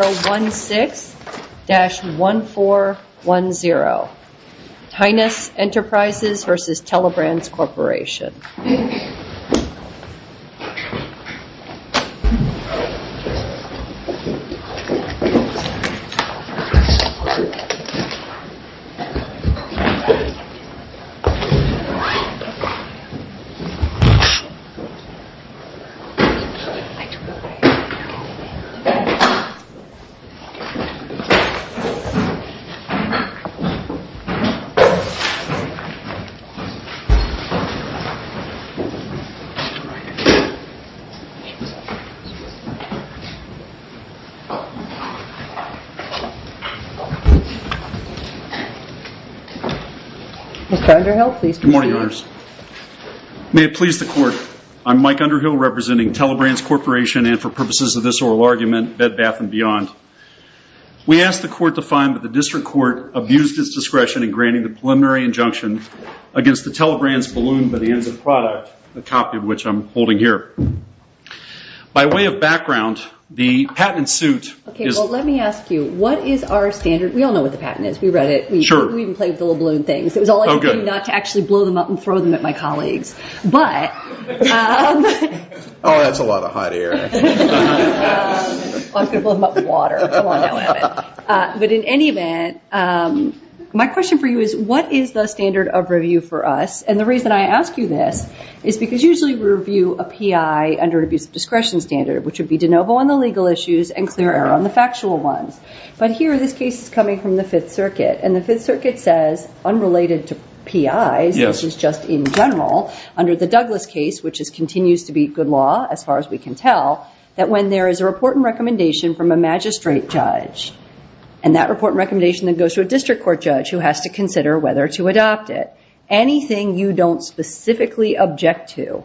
16-1410 Tinnus Enterprises v. Telebrands Corporation 16-1410 Tinnus Enterprises v. Telebrands Corporation 16-1410 Tinnus Enterprises v. Telebrands Corporation May it please the Court, I am Mike Underhill representing Telebrands Corporation and for We ask the Court to find that the District Court abused its discretion in granting the preliminary injunction against the Telebrands balloon by the ends of product, a copy of which I'm holding here. By way of background, the patent suit is- Okay, well, let me ask you, what is our standard? We all know what the patent is. We read it. Sure. We even played with the little balloon things. Oh, good. It was all I could do not to actually blow them up and throw them at my colleagues, but- Oh, that's a lot of hot air. I'm going to blow them up with water. But in any event, my question for you is, what is the standard of review for us? And the reason I ask you this is because usually we review a PI under an abuse of discretion standard, which would be de novo on the legal issues and clear error on the factual ones. But here, this case is coming from the Fifth Circuit, and the Fifth Circuit says, unrelated to PIs, which is just in general, under the law, that when there is a report and recommendation from a magistrate judge, and that report and recommendation then goes to a district court judge who has to consider whether to adopt it, anything you don't specifically object to,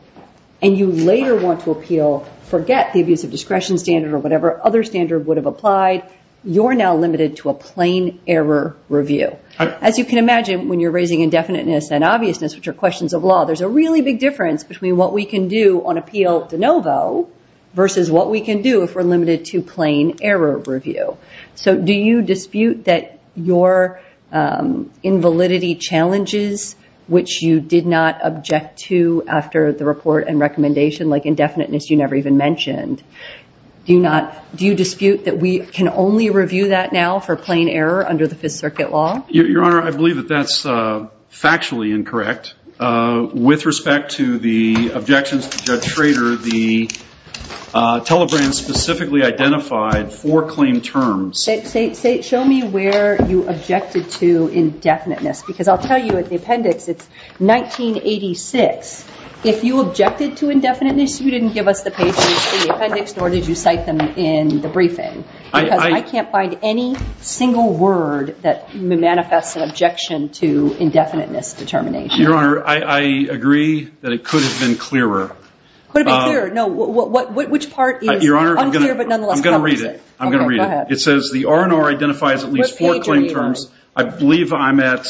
and you later want to appeal, forget the abuse of discretion standard or whatever other standard would have applied, you're now limited to a plain error review. As you can imagine, when you're raising indefiniteness and obviousness, which are questions of law, there's a really big difference between what we can do on appeal de novo versus what we can do if we're limited to plain error review. So do you dispute that your invalidity challenges, which you did not object to after the report and recommendation, like indefiniteness you never even mentioned, do you dispute that we can only review that now for plain error under the Fifth Circuit law? Your Honor, I believe that that's factually incorrect. With respect to the objections to Judge Schrader, the telegram specifically identified four claim terms. Show me where you objected to indefiniteness, because I'll tell you at the appendix, it's 1986. If you objected to indefiniteness, you didn't give us the page where you see the appendix, nor did you cite them in the briefing, because I can't find any single word that manifests an objection to indefiniteness determination. Your Honor, I agree that it could have been clearer. Could it have been clearer? No, which part is unclear but nonetheless covers it? Your Honor, I'm going to read it. It says the R&R identifies at least four claim terms. What page are you on? I believe I'm at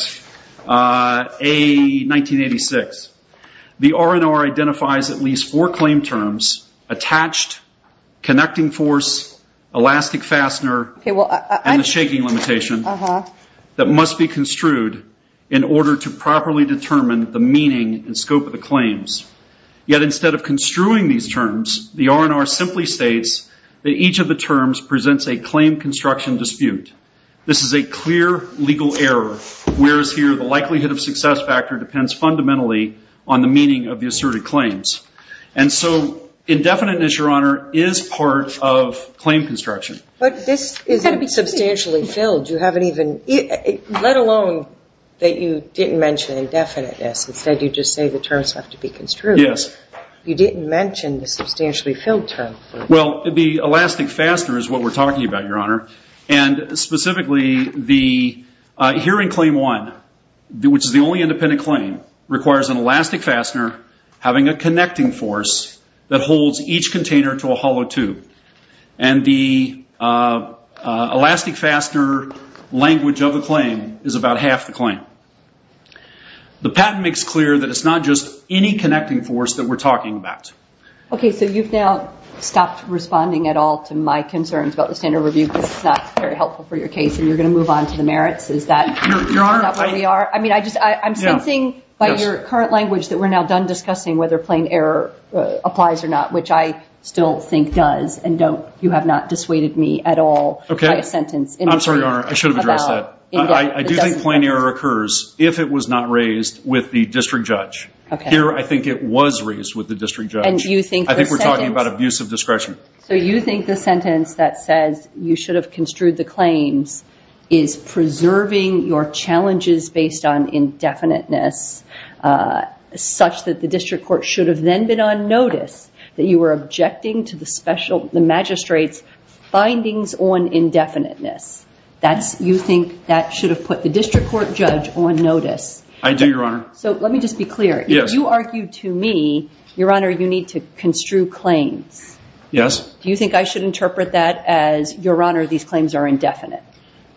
A, 1986. The R&R identifies at least four claim terms, attached, connecting force, elastic fastener, and the shaking limitation, that must be construed in order to properly determine the meaning and scope of the claims. Yet instead of construing these terms, the R&R simply states that each of the terms presents a claim construction dispute. This is a clear legal error, whereas here the likelihood of success factor depends fundamentally on the meaning of the asserted claims. And so indefiniteness, Your Honor, is part of claim construction. But this is substantially filled. You haven't even, let alone that you didn't mention indefiniteness. Instead you just say the terms have to be construed. You didn't mention the substantially filled term. Well, the elastic fastener is what we're talking about, Your Honor. And specifically the hearing claim one, which is the only independent claim, requires an elastic fastener having a connecting force that holds each container to a hollow tube. And the elastic fastener language of the claim is about half the claim. The patent makes clear that it's not just any connecting force that we're talking about. Okay, so you've now stopped responding at all to my concerns about the standard review. This is not very helpful for your case and you're going to move on to the merits. Is that where we are? I mean, I'm sensing by your current language that we're now done discussing whether plain error applies or not, which I still think does. And you have not dissuaded me at all by a sentence. I'm sorry, Your Honor. I should have addressed that. I do think plain error occurs if it was not raised with the district judge. Here I think it was raised with the district judge. I think we're talking about abuse of discretion. So you think the sentence that says you should have construed the claims is preserving your on notice that you were objecting to the magistrate's findings on indefiniteness. You think that should have put the district court judge on notice? I do, Your Honor. So let me just be clear. If you argue to me, Your Honor, you need to construe claims. Yes. Do you think I should interpret that as, Your Honor, these claims are indefinite?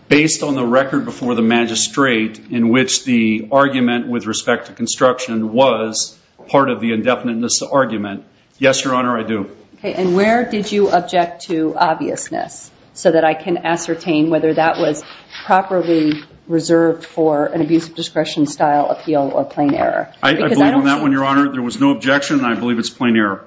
Based on the record before the magistrate in which the argument with respect to construction was part of the indefiniteness argument? Yes, Your Honor, I do. And where did you object to obviousness so that I can ascertain whether that was properly reserved for an abuse of discretion style appeal or plain error? I believe on that one, Your Honor, there was no objection. I believe it's plain error.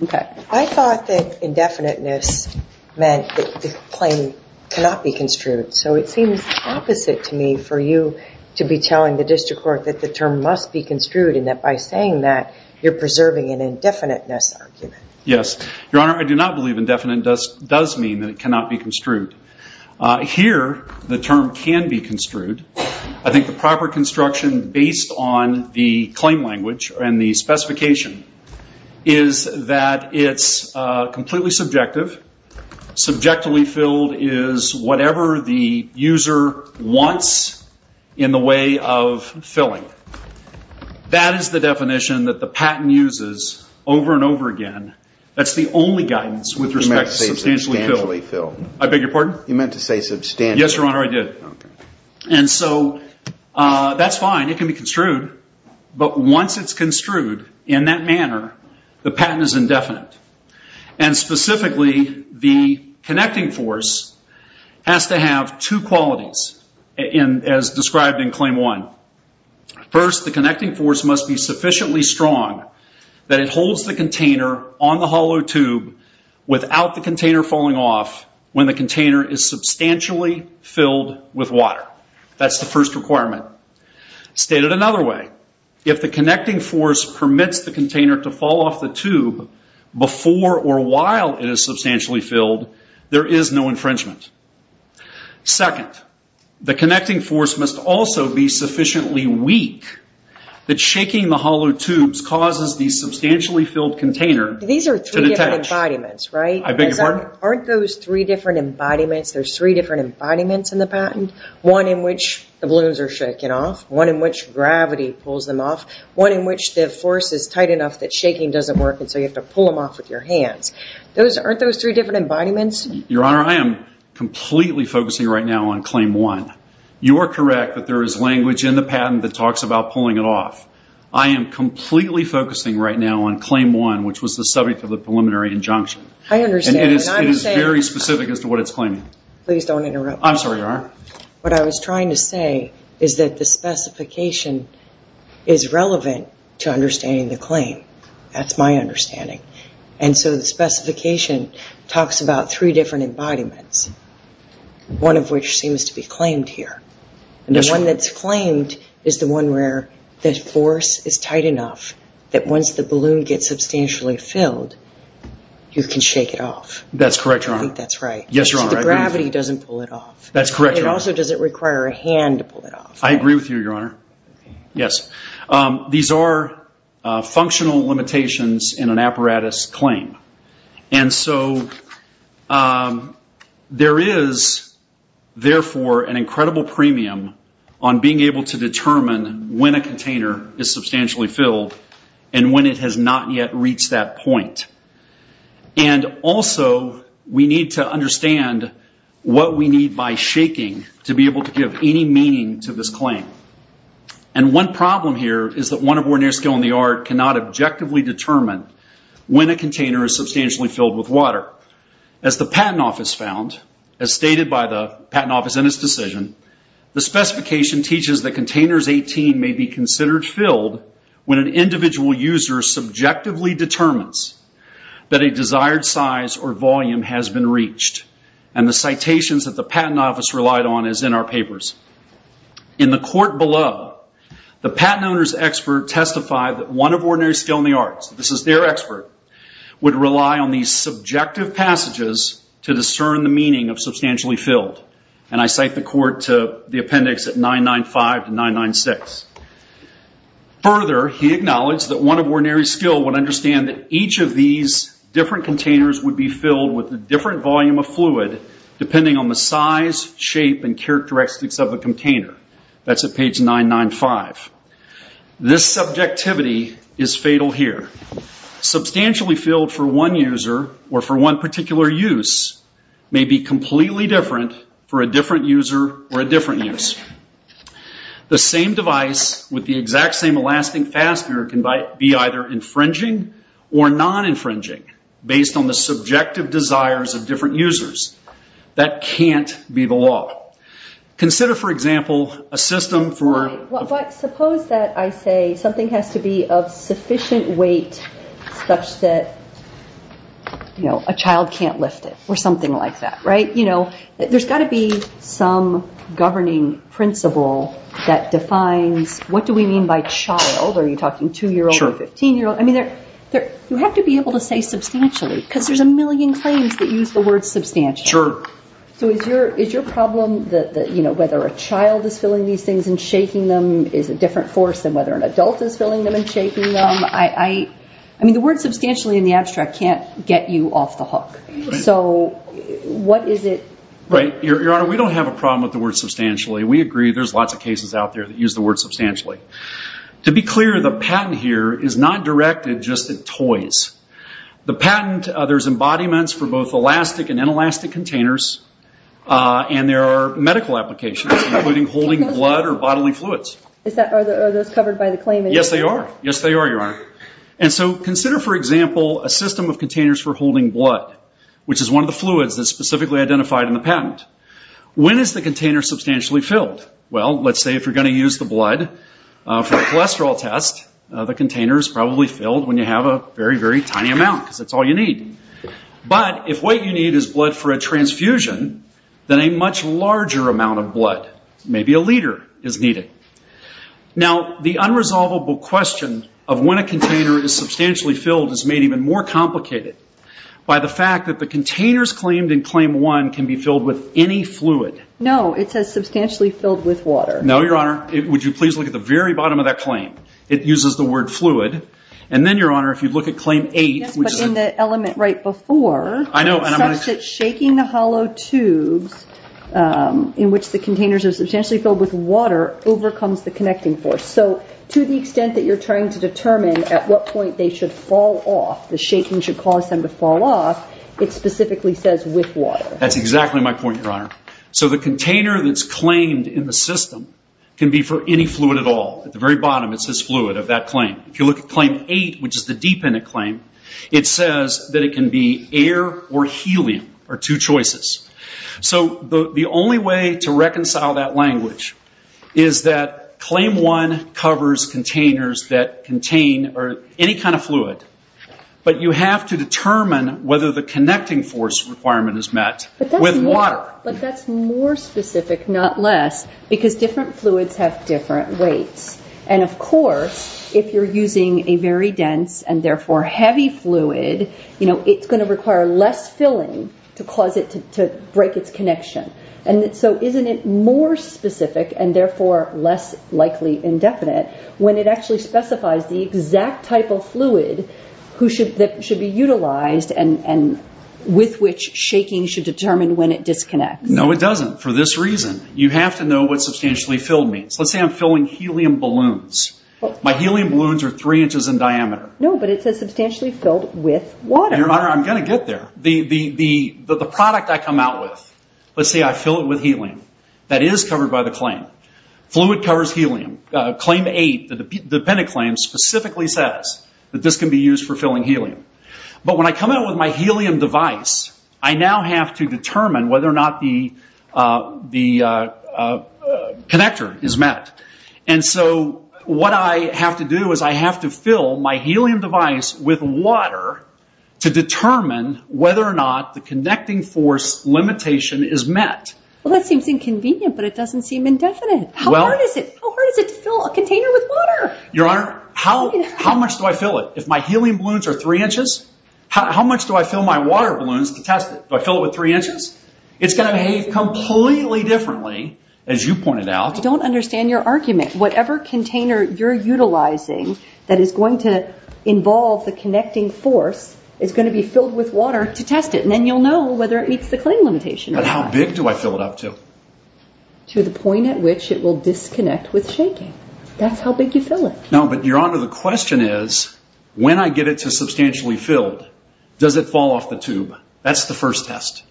I thought that indefiniteness meant that the claim cannot be construed. So it seems opposite to me for you to be telling the district court that the term must be construed and that by saying that, you're preserving an indefiniteness argument. Yes. Your Honor, I do not believe indefiniteness does mean that it cannot be construed. Here, the term can be construed. I think the proper construction based on the claim language and the specification is that it's completely subjective. Subjectively filled is whatever the user wants in the way of filling. That is the definition that the patent uses over and over again. That's the only guidance with respect to substantially filled. You meant to say substantially filled. I beg your pardon? You meant to say substantially filled. Yes, Your Honor, I did. And so that's fine. It can be construed. But once it's construed in that manner, the patent is indefinite. And specifically, the connecting force has to have two qualities as described in Claim 1. First, the connecting force must be sufficiently strong that it holds the container on the hollow tube without the container falling off when the container is substantially filled with water. That's the first requirement. Stated another way, if the connecting force permits the container to fall off the tube before or while it is substantially filled, there is no infringement. Second, the connecting force must also be sufficiently weak that shaking the hollow tubes causes the substantially filled container to detach. These are three different embodiments, right? I beg your pardon? Aren't those three different embodiments? There's three different embodiments in the patent, one in which the balloons are shaken off, one in which gravity pulls them off, one in which the force is tight enough that shaking doesn't work and so you have to pull them off with your hands. Aren't those three different embodiments? Your Honor, I am completely focusing right now on Claim 1. You are correct that there is language in the patent that talks about pulling it off. I am completely focusing right now on Claim 1, which was the subject of the preliminary injunction. I understand. And it is very specific as to what it's claiming. Please don't interrupt. I'm sorry, Your Honor. What I was trying to say is that the specification is relevant to understanding the claim. That's my understanding. And so the specification talks about three different embodiments, one of which seems to be claimed here. And the one that's claimed is the one where the force is tight enough that once the balloon gets substantially filled, you can shake it off. That's correct, Your Honor. I think that's right. Yes, Your Honor. The gravity doesn't pull it off. That's correct, Your Honor. And also, does it require a hand to pull it off? I agree with you, Your Honor. Yes. These are functional limitations in an apparatus claim. And so there is, therefore, an incredible premium on being able to determine when a container is substantially filled and when it has not yet reached that point. And also, we need to understand what we need by shaking to be able to give any meaning to this claim. And one problem here is that one of Ordinary Scale and the Art cannot objectively determine when a container is substantially filled with water. As the Patent Office found, as stated by the Patent Office in its decision, the specification teaches that containers 18 may be considered filled when an individual user subjectively determines that a desired size or volume has been reached. And the citations that the Patent Office relied on is in our papers. In the court below, the patent owner's expert testified that one of Ordinary Scale and the Arts, this is their expert, would rely on these subjective passages to discern the meaning of substantially filled. And I cite the court to the appendix at 995 to 996. Further, he acknowledged that one of Ordinary Scale would understand that each of these different containers would be filled with a different volume of fluid, depending on the size, shape, and characteristics of the container. That's at page 995. This subjectivity is fatal here. Substantially filled for one user or for one particular use may be completely different for a different user or a different use. The same device with the exact same elastic fastener can be either infringing or non-infringing, based on the subjective desires of different users. That can't be the law. Consider, for example, a system for... But suppose that I say something has to be of sufficient weight such that a child can't lift it, or something like that, right? There's got to be some governing principle that defines what do we mean by child? Are you talking two-year-old or 15-year-old? I mean, you have to be able to say substantially, because there's a million claims that use the word substantially. So is your problem that whether a child is filling these things and shaking them is a different force than whether an adult is filling them and shaking them? I mean, the word substantially in the abstract can't get you off the hook. So what is it... Right. Your Honor, we don't have a problem with the word substantially. We agree there's lots of cases out there that use the word substantially. To be clear, the patent here is not directed just at toys. The patent, there's embodiments for both elastic and inelastic containers, and there are medical applications, including holding blood or bodily fluids. Are those covered by the claim? Yes, they are. Yes, they are, Your Honor. And so consider, for example, a system of containers for holding blood, which is one of the fluids that's specifically identified in the patent. When is the container substantially filled? Well, let's say if you're going to use the blood for a cholesterol test, the container is probably filled when you have a very, very tiny amount, because that's all you need. But if what you need is blood for a transfusion, then a much larger amount of blood, maybe a liter, is needed. Okay. Now, the unresolvable question of when a container is substantially filled is made even more complicated by the fact that the containers claimed in Claim 1 can be filled with any fluid. No, it says substantially filled with water. No, Your Honor. Would you please look at the very bottom of that claim? It uses the word fluid. And then, Your Honor, if you look at Claim 8, which is a... Yes, but in the element right before, it says that shaking the hollow tubes in which the overcomes the connecting force. So, to the extent that you're trying to determine at what point they should fall off, the shaking should cause them to fall off, it specifically says with water. That's exactly my point, Your Honor. So, the container that's claimed in the system can be for any fluid at all. At the very bottom, it says fluid of that claim. If you look at Claim 8, which is the deep end of the claim, it says that it can be air or helium are two choices. So, the only way to reconcile that language is that Claim 1 covers containers that contain any kind of fluid, but you have to determine whether the connecting force requirement is met with water. But that's more specific, not less, because different fluids have different weights. And, of course, if you're using a very dense and, therefore, heavy fluid, it's going to require less filling to cause it to break its connection. So, isn't it more specific, and, therefore, less likely indefinite, when it actually specifies the exact type of fluid that should be utilized and with which shaking should determine when it disconnects? No, it doesn't. For this reason, you have to know what substantially filled means. Let's say I'm filling helium balloons. My helium balloons are three inches in diameter. No, but it says substantially filled with water. I'm going to get there. The product I come out with, let's say I fill it with helium, that is covered by the claim. Fluid covers helium. Claim 8, the dependent claim, specifically says that this can be used for filling helium. But when I come out with my helium device, I now have to determine whether or not the connector is met. And so, what I have to do is I have to fill my helium device with water to determine whether or not the connecting force limitation is met. Well, that seems inconvenient, but it doesn't seem indefinite. How hard is it? How hard is it to fill a container with water? Your Honor, how much do I fill it? If my helium balloons are three inches, how much do I fill my water balloons to test it? Do I fill it with three inches? It's going to behave completely differently, as you pointed out. I don't understand your argument. Whatever container you're utilizing that is going to involve the connecting force is going to be filled with water to test it, and then you'll know whether it meets the claim limitation or not. But how big do I fill it up to? To the point at which it will disconnect with shaking. That's how big you fill it. No, but Your Honor, the question is, when I get it to substantially filled, does it fall off the tube? That's the first test.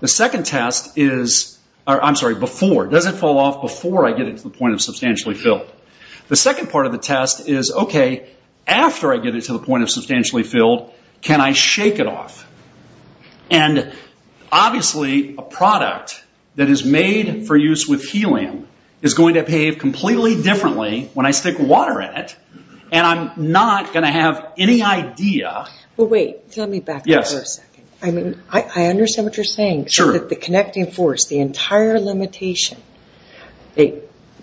The second test is, I'm sorry, before. Does it fall off before I get it to the point of substantially filled? The second part of the test is, okay, after I get it to the point of substantially filled, can I shake it off? Obviously, a product that is made for use with helium is going to behave completely differently when I stick water in it, and I'm not going to have any idea. Well, wait. Let me back up for a second. I understand what you're saying. The connecting force, the entire limitation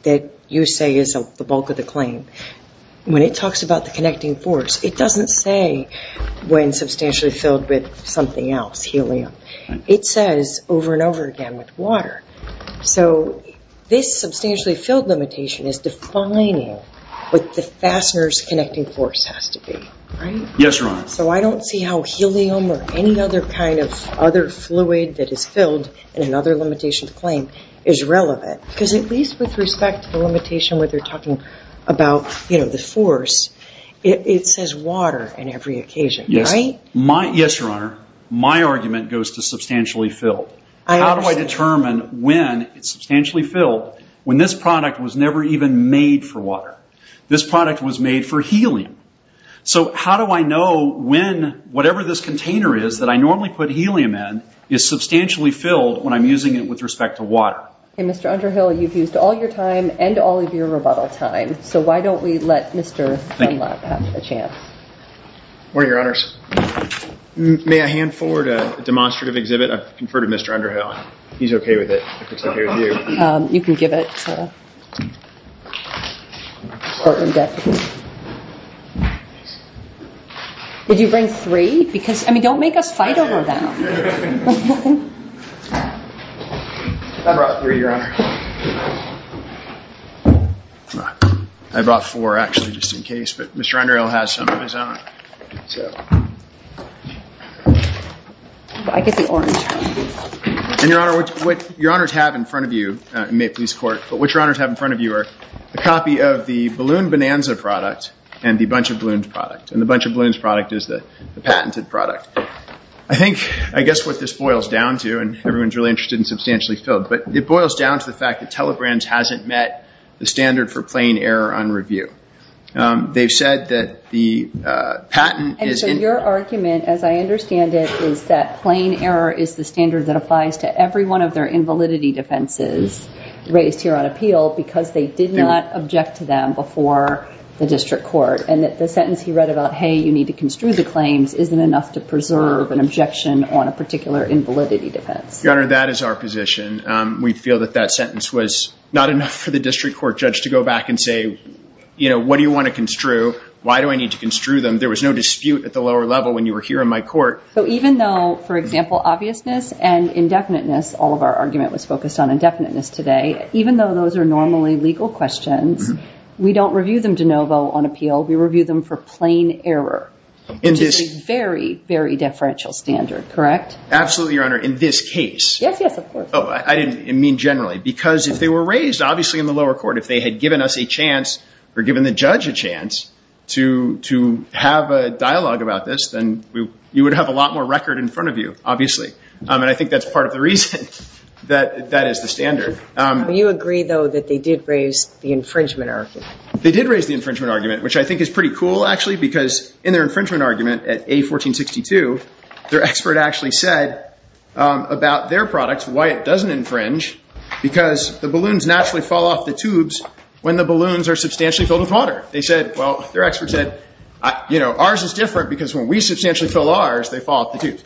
that you say is the bulk of the claim, when it talks about the connecting force, it doesn't say when substantially filled with something else, helium. It says over and over again with water. So this substantially filled limitation is defining what the fastener's connecting force has to be, right? Yes, Your Honor. So I don't see how helium or any other kind of other fluid that is filled in another limitation to claim is relevant. Because at least with respect to the limitation where they're talking about the force, it says water in every occasion, right? Yes, Your Honor. My argument goes to substantially filled. How do I determine when it's substantially filled when this product was never even made for water? This product was made for helium. So how do I know when whatever this container is that I normally put helium in is substantially filled when I'm using it with respect to water? Okay, Mr. Underhill, you've used all your time and all of your rebuttal time. So why don't we let Mr. Dunlap have a chance? Where are your honors? May I hand forward a demonstrative exhibit? I've conferred Mr. Underhill. He's okay with it, if it's okay with you. You can give it to the court in depth. Would you bring three? Because, I mean, don't make us fight over them. I brought three, Your Honor. I brought four, actually, just in case. But Mr. Underhill has some of his own. I get the orange. And, Your Honor, what your honors have in front of you, may it please the court, but what your honors have in front of you are a copy of the Balloon Bonanza product and the Bunch of Balloons product. And the Bunch of Balloons product is the patented product. I think, I guess what this boils down to, and everyone's really interested in substantially filled, but it boils down to the fact that Telegranz hasn't met the standard for plain error on review. They've said that the patent is in... It's the standard that applies to every one of their invalidity defenses raised here on appeal because they did not object to them before the district court. And that the sentence he read about, hey, you need to construe the claims, isn't enough to preserve an objection on a particular invalidity defense. Your Honor, that is our position. We feel that that sentence was not enough for the district court judge to go back and say, you know, what do you want to construe? Why do I need to construe them? There was no dispute at the lower level when you were here in my court. So even though, for example, obviousness and indefiniteness, all of our argument was focused on indefiniteness today, even though those are normally legal questions, we don't review them de novo on appeal. We review them for plain error, which is a very, very deferential standard, correct? Absolutely, Your Honor. In this case... Yes, yes, of course. Oh, I didn't mean generally because if they were raised, obviously in the lower court, if they had given us a chance or given the judge a chance to have a dialogue about this, then you would have a lot more record in front of you, obviously. And I think that's part of the reason that that is the standard. Do you agree, though, that they did raise the infringement argument? They did raise the infringement argument, which I think is pretty cool, actually, because in their infringement argument at A1462, their expert actually said about their products why it doesn't infringe, because the balloons naturally fall off the tubes when the balloons are substantially filled with water. They said, well, their expert said, you know, ours is different because when we substantially fill ours, they fall off the tubes.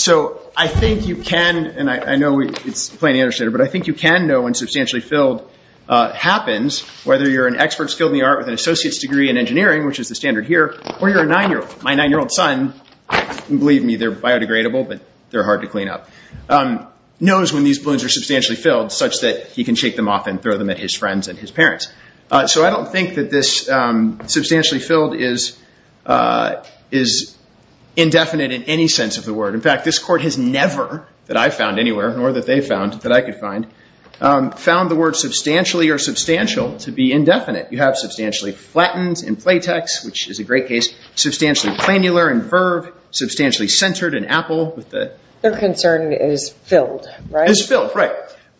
So I think you can, and I know it's plainly understated, but I think you can know when substantially filled happens, whether you're an expert skilled in the art with an associate's degree in engineering, which is the standard here, or you're a nine-year-old. My nine-year-old son, believe me, they're biodegradable, but they're hard to clean up, knows when these balloons are substantially filled such that he can shake them off and throw them at his friends and his parents. So I don't think that this substantially filled is indefinite in any sense of the word. In fact, this court has never, that I've found anywhere, nor that they've found, that I could find, found the word substantially or substantial to be indefinite. You have substantially flattened in platex, which is a great case, substantially planular in verve, substantially centered in apple. Their concern is filled, right?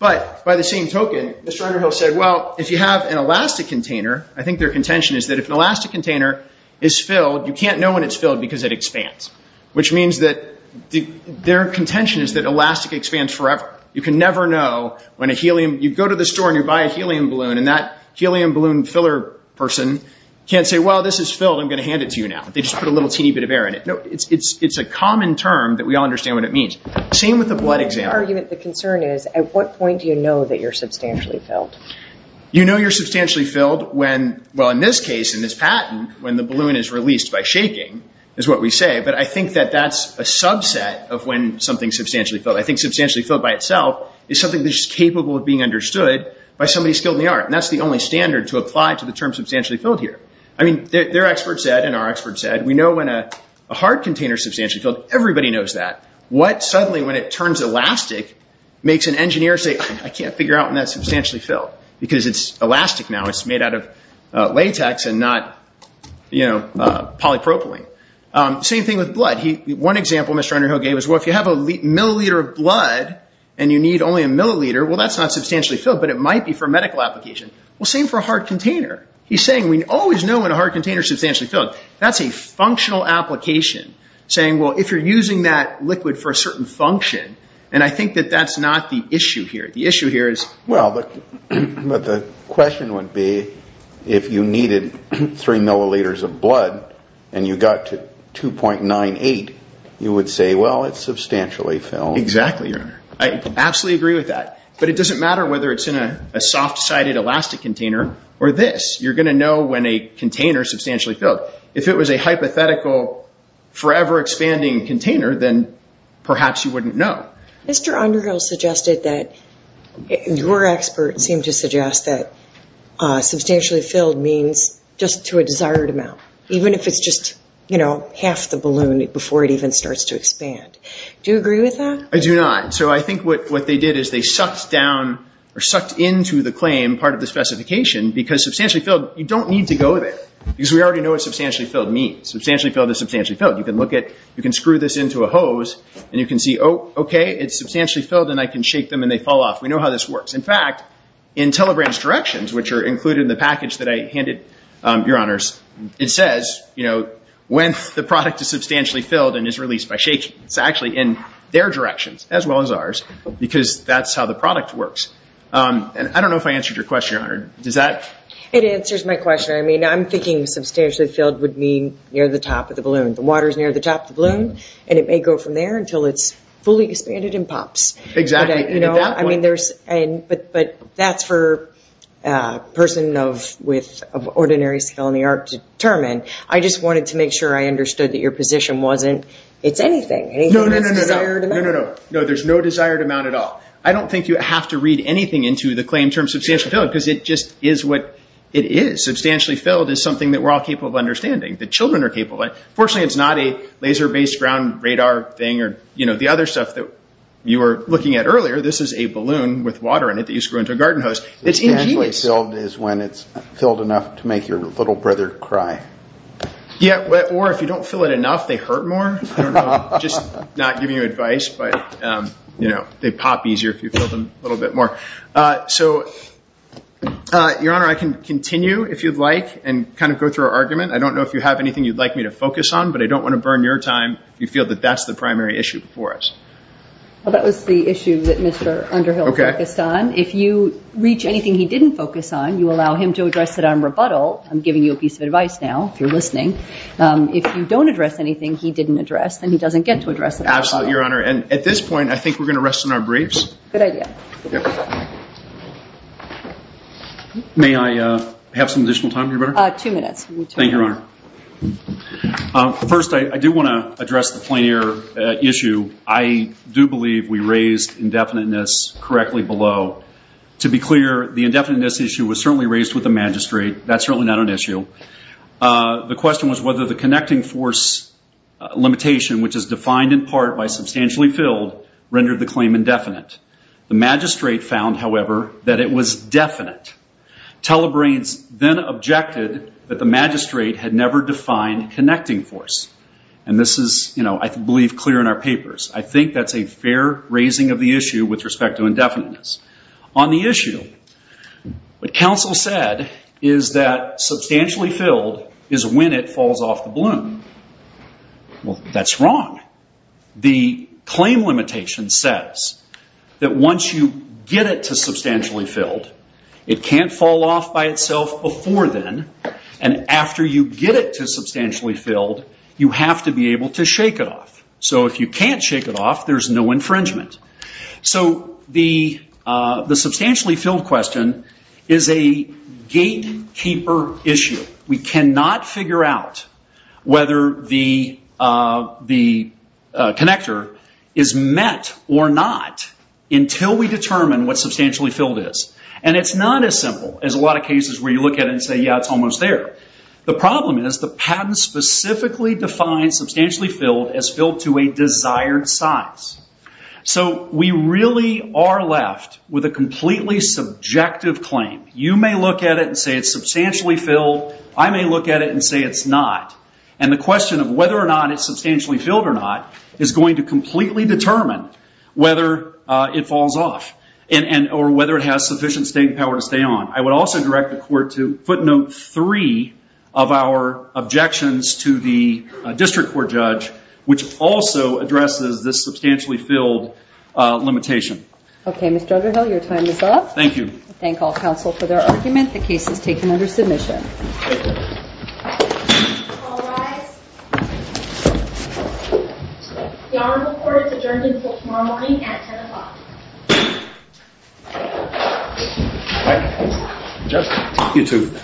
But by the same token, Mr. Underhill said, well, if you have an elastic container, I think their contention is that if an elastic container is filled, you can't know when it's filled because it expands, which means that their contention is that elastic expands forever. You can never know when a helium, you go to the store and you buy a helium balloon and that helium balloon filler person can't say, well, this is filled, I'm going to hand it to you now. They just put a little teeny bit of air in it. No, it's a common term that we all understand what it means. Same with the blood example. My argument, the concern is, at what point do you know that you're substantially filled? You know you're substantially filled when, well, in this case, in this patent, when the balloon is released by shaking is what we say, but I think that that's a subset of when something's substantially filled. I think substantially filled by itself is something that's just capable of being understood by somebody skilled in the art, and that's the only standard to apply to the term substantially filled here. Their expert said, and our expert said, we know when a hard container is substantially filled. Everybody knows that. What suddenly, when it turns elastic, makes an engineer say, I can't figure out when that's substantially filled, because it's elastic now. It's made out of latex and not, you know, polypropylene. Same thing with blood. One example Mr. Underhill gave was, well, if you have a milliliter of blood and you need only a milliliter, well, that's not substantially filled, but it might be for a medical application. Well, same for a hard container. He's saying we always know when a hard container is substantially filled. That's a functional application, saying, well, if you're using that liquid for a certain function, and I think that that's not the issue here. The issue here is... Well, but the question would be, if you needed three milliliters of blood and you got to 2.98, you would say, well, it's substantially filled. Exactly, Your Honor. I absolutely agree with that. But it doesn't matter whether it's in a soft-sided elastic container or this. You're going to know when a container is substantially filled. If it was a hypothetical forever-expanding container, then perhaps you wouldn't know. Mr. Underhill suggested that... Your expert seemed to suggest that substantially filled means just to a desired amount, even if it's just, you know, half the balloon before it even starts to expand. Do you agree with that? I do not. So I think what they did is they sucked down or sucked into the claim part of the specification because substantially filled, you don't need to go there because we already know what substantially filled means. Substantially filled is substantially filled. You can look at... You can screw this into a hose and you can see, oh, okay, it's substantially filled and I can shake them and they fall off. We know how this works. In fact, in Telegram's directions, which are included in the package that I handed, Your Honors, it says, you know, when the product is substantially filled and is released by shaking. It's actually in their directions as well as ours because that's how the product works. And I don't know if I answered your question, Your Honor. Does that... It answers my question. I mean, I'm thinking substantially filled would mean near the top of the balloon. The water's near the top of the balloon and it may go from there until it's fully expanded and pops. Exactly. You know, I mean, there's... But that's for a person of ordinary skill in the art to determine. I just wanted to make sure I understood that your position wasn't, it's anything. Anything that's a desired amount. No, no, no, no, no, no, no, no. No, there's no desired amount at all. I don't think you have to read anything into the claim term substantial filled because it just is what it is. Substantially filled is something that we're all capable of understanding, that children are capable of. Fortunately, it's not a laser-based ground radar thing or, you know, the other stuff that you were looking at earlier. This is a balloon with water in it that you screw into a garden hose. It's ingenious. Substantially filled is when it's filled enough to make your little brother cry. Yeah, or if you don't fill it enough, they hurt more. I don't know. Just not giving you advice, but they pop easier if you fill them a little bit more. So, Your Honor, I can continue if you'd like and kind of go through our argument. I don't know if you have anything you'd like me to focus on, but I don't want to burn your time if you feel that that's the primary issue before us. Well, that was the issue that Mr. Underhill focused on. If you reach anything he didn't focus on, you allow him to address it on rebuttal. I'm giving you a piece of advice now, if you're listening. If you don't address anything he didn't address, then he doesn't get to address it. Absolutely, Your Honor. And at this point, I think we're going to rest in our briefs. Good idea. May I have some additional time, Your Honor? Two minutes. Thank you, Your Honor. First, I do want to address the plein air issue. I do believe we raised indefiniteness correctly below. To be clear, the indefiniteness issue was certainly raised with the magistrate. That's certainly not an issue. The question was whether the connecting force limitation, which is defined in part by substantially filled, rendered the claim indefinite. The magistrate found, however, that it was definite. Telebrains then objected that the magistrate had never defined connecting force. And this is, I believe, clear in our papers. I think that's a fair raising of the issue with respect to indefiniteness. On the issue, what counsel said is that substantially filled is when it falls off the bloom. Well, that's wrong. The claim limitation says that once you get it to substantially filled, it can't fall off by itself before then. And after you get it to substantially filled, you have to be able to shake it off. So if you can't shake it off, there's no infringement. So the substantially filled question is a gatekeeper issue. We cannot figure out whether the connector is met or not until we determine what substantially filled is. And it's not as simple as a lot of cases where you look at it and say, yeah, it's almost there. The problem is the patent specifically defines substantially filled as filled to a desired size. So we really are left with a completely subjective claim. You may look at it and say it's substantially filled. I may look at it and say it's not. And the question of whether or not it's substantially filled or not is going to completely determine whether it falls off or whether it has sufficient staying power to stay on. I would also direct the court to footnote three of our objections to the district court judge, which also addresses this substantially filled limitation. Okay, Mr. Udderhill, your time is up. Thank you. Thank all counsel for their argument. The case is taken under submission.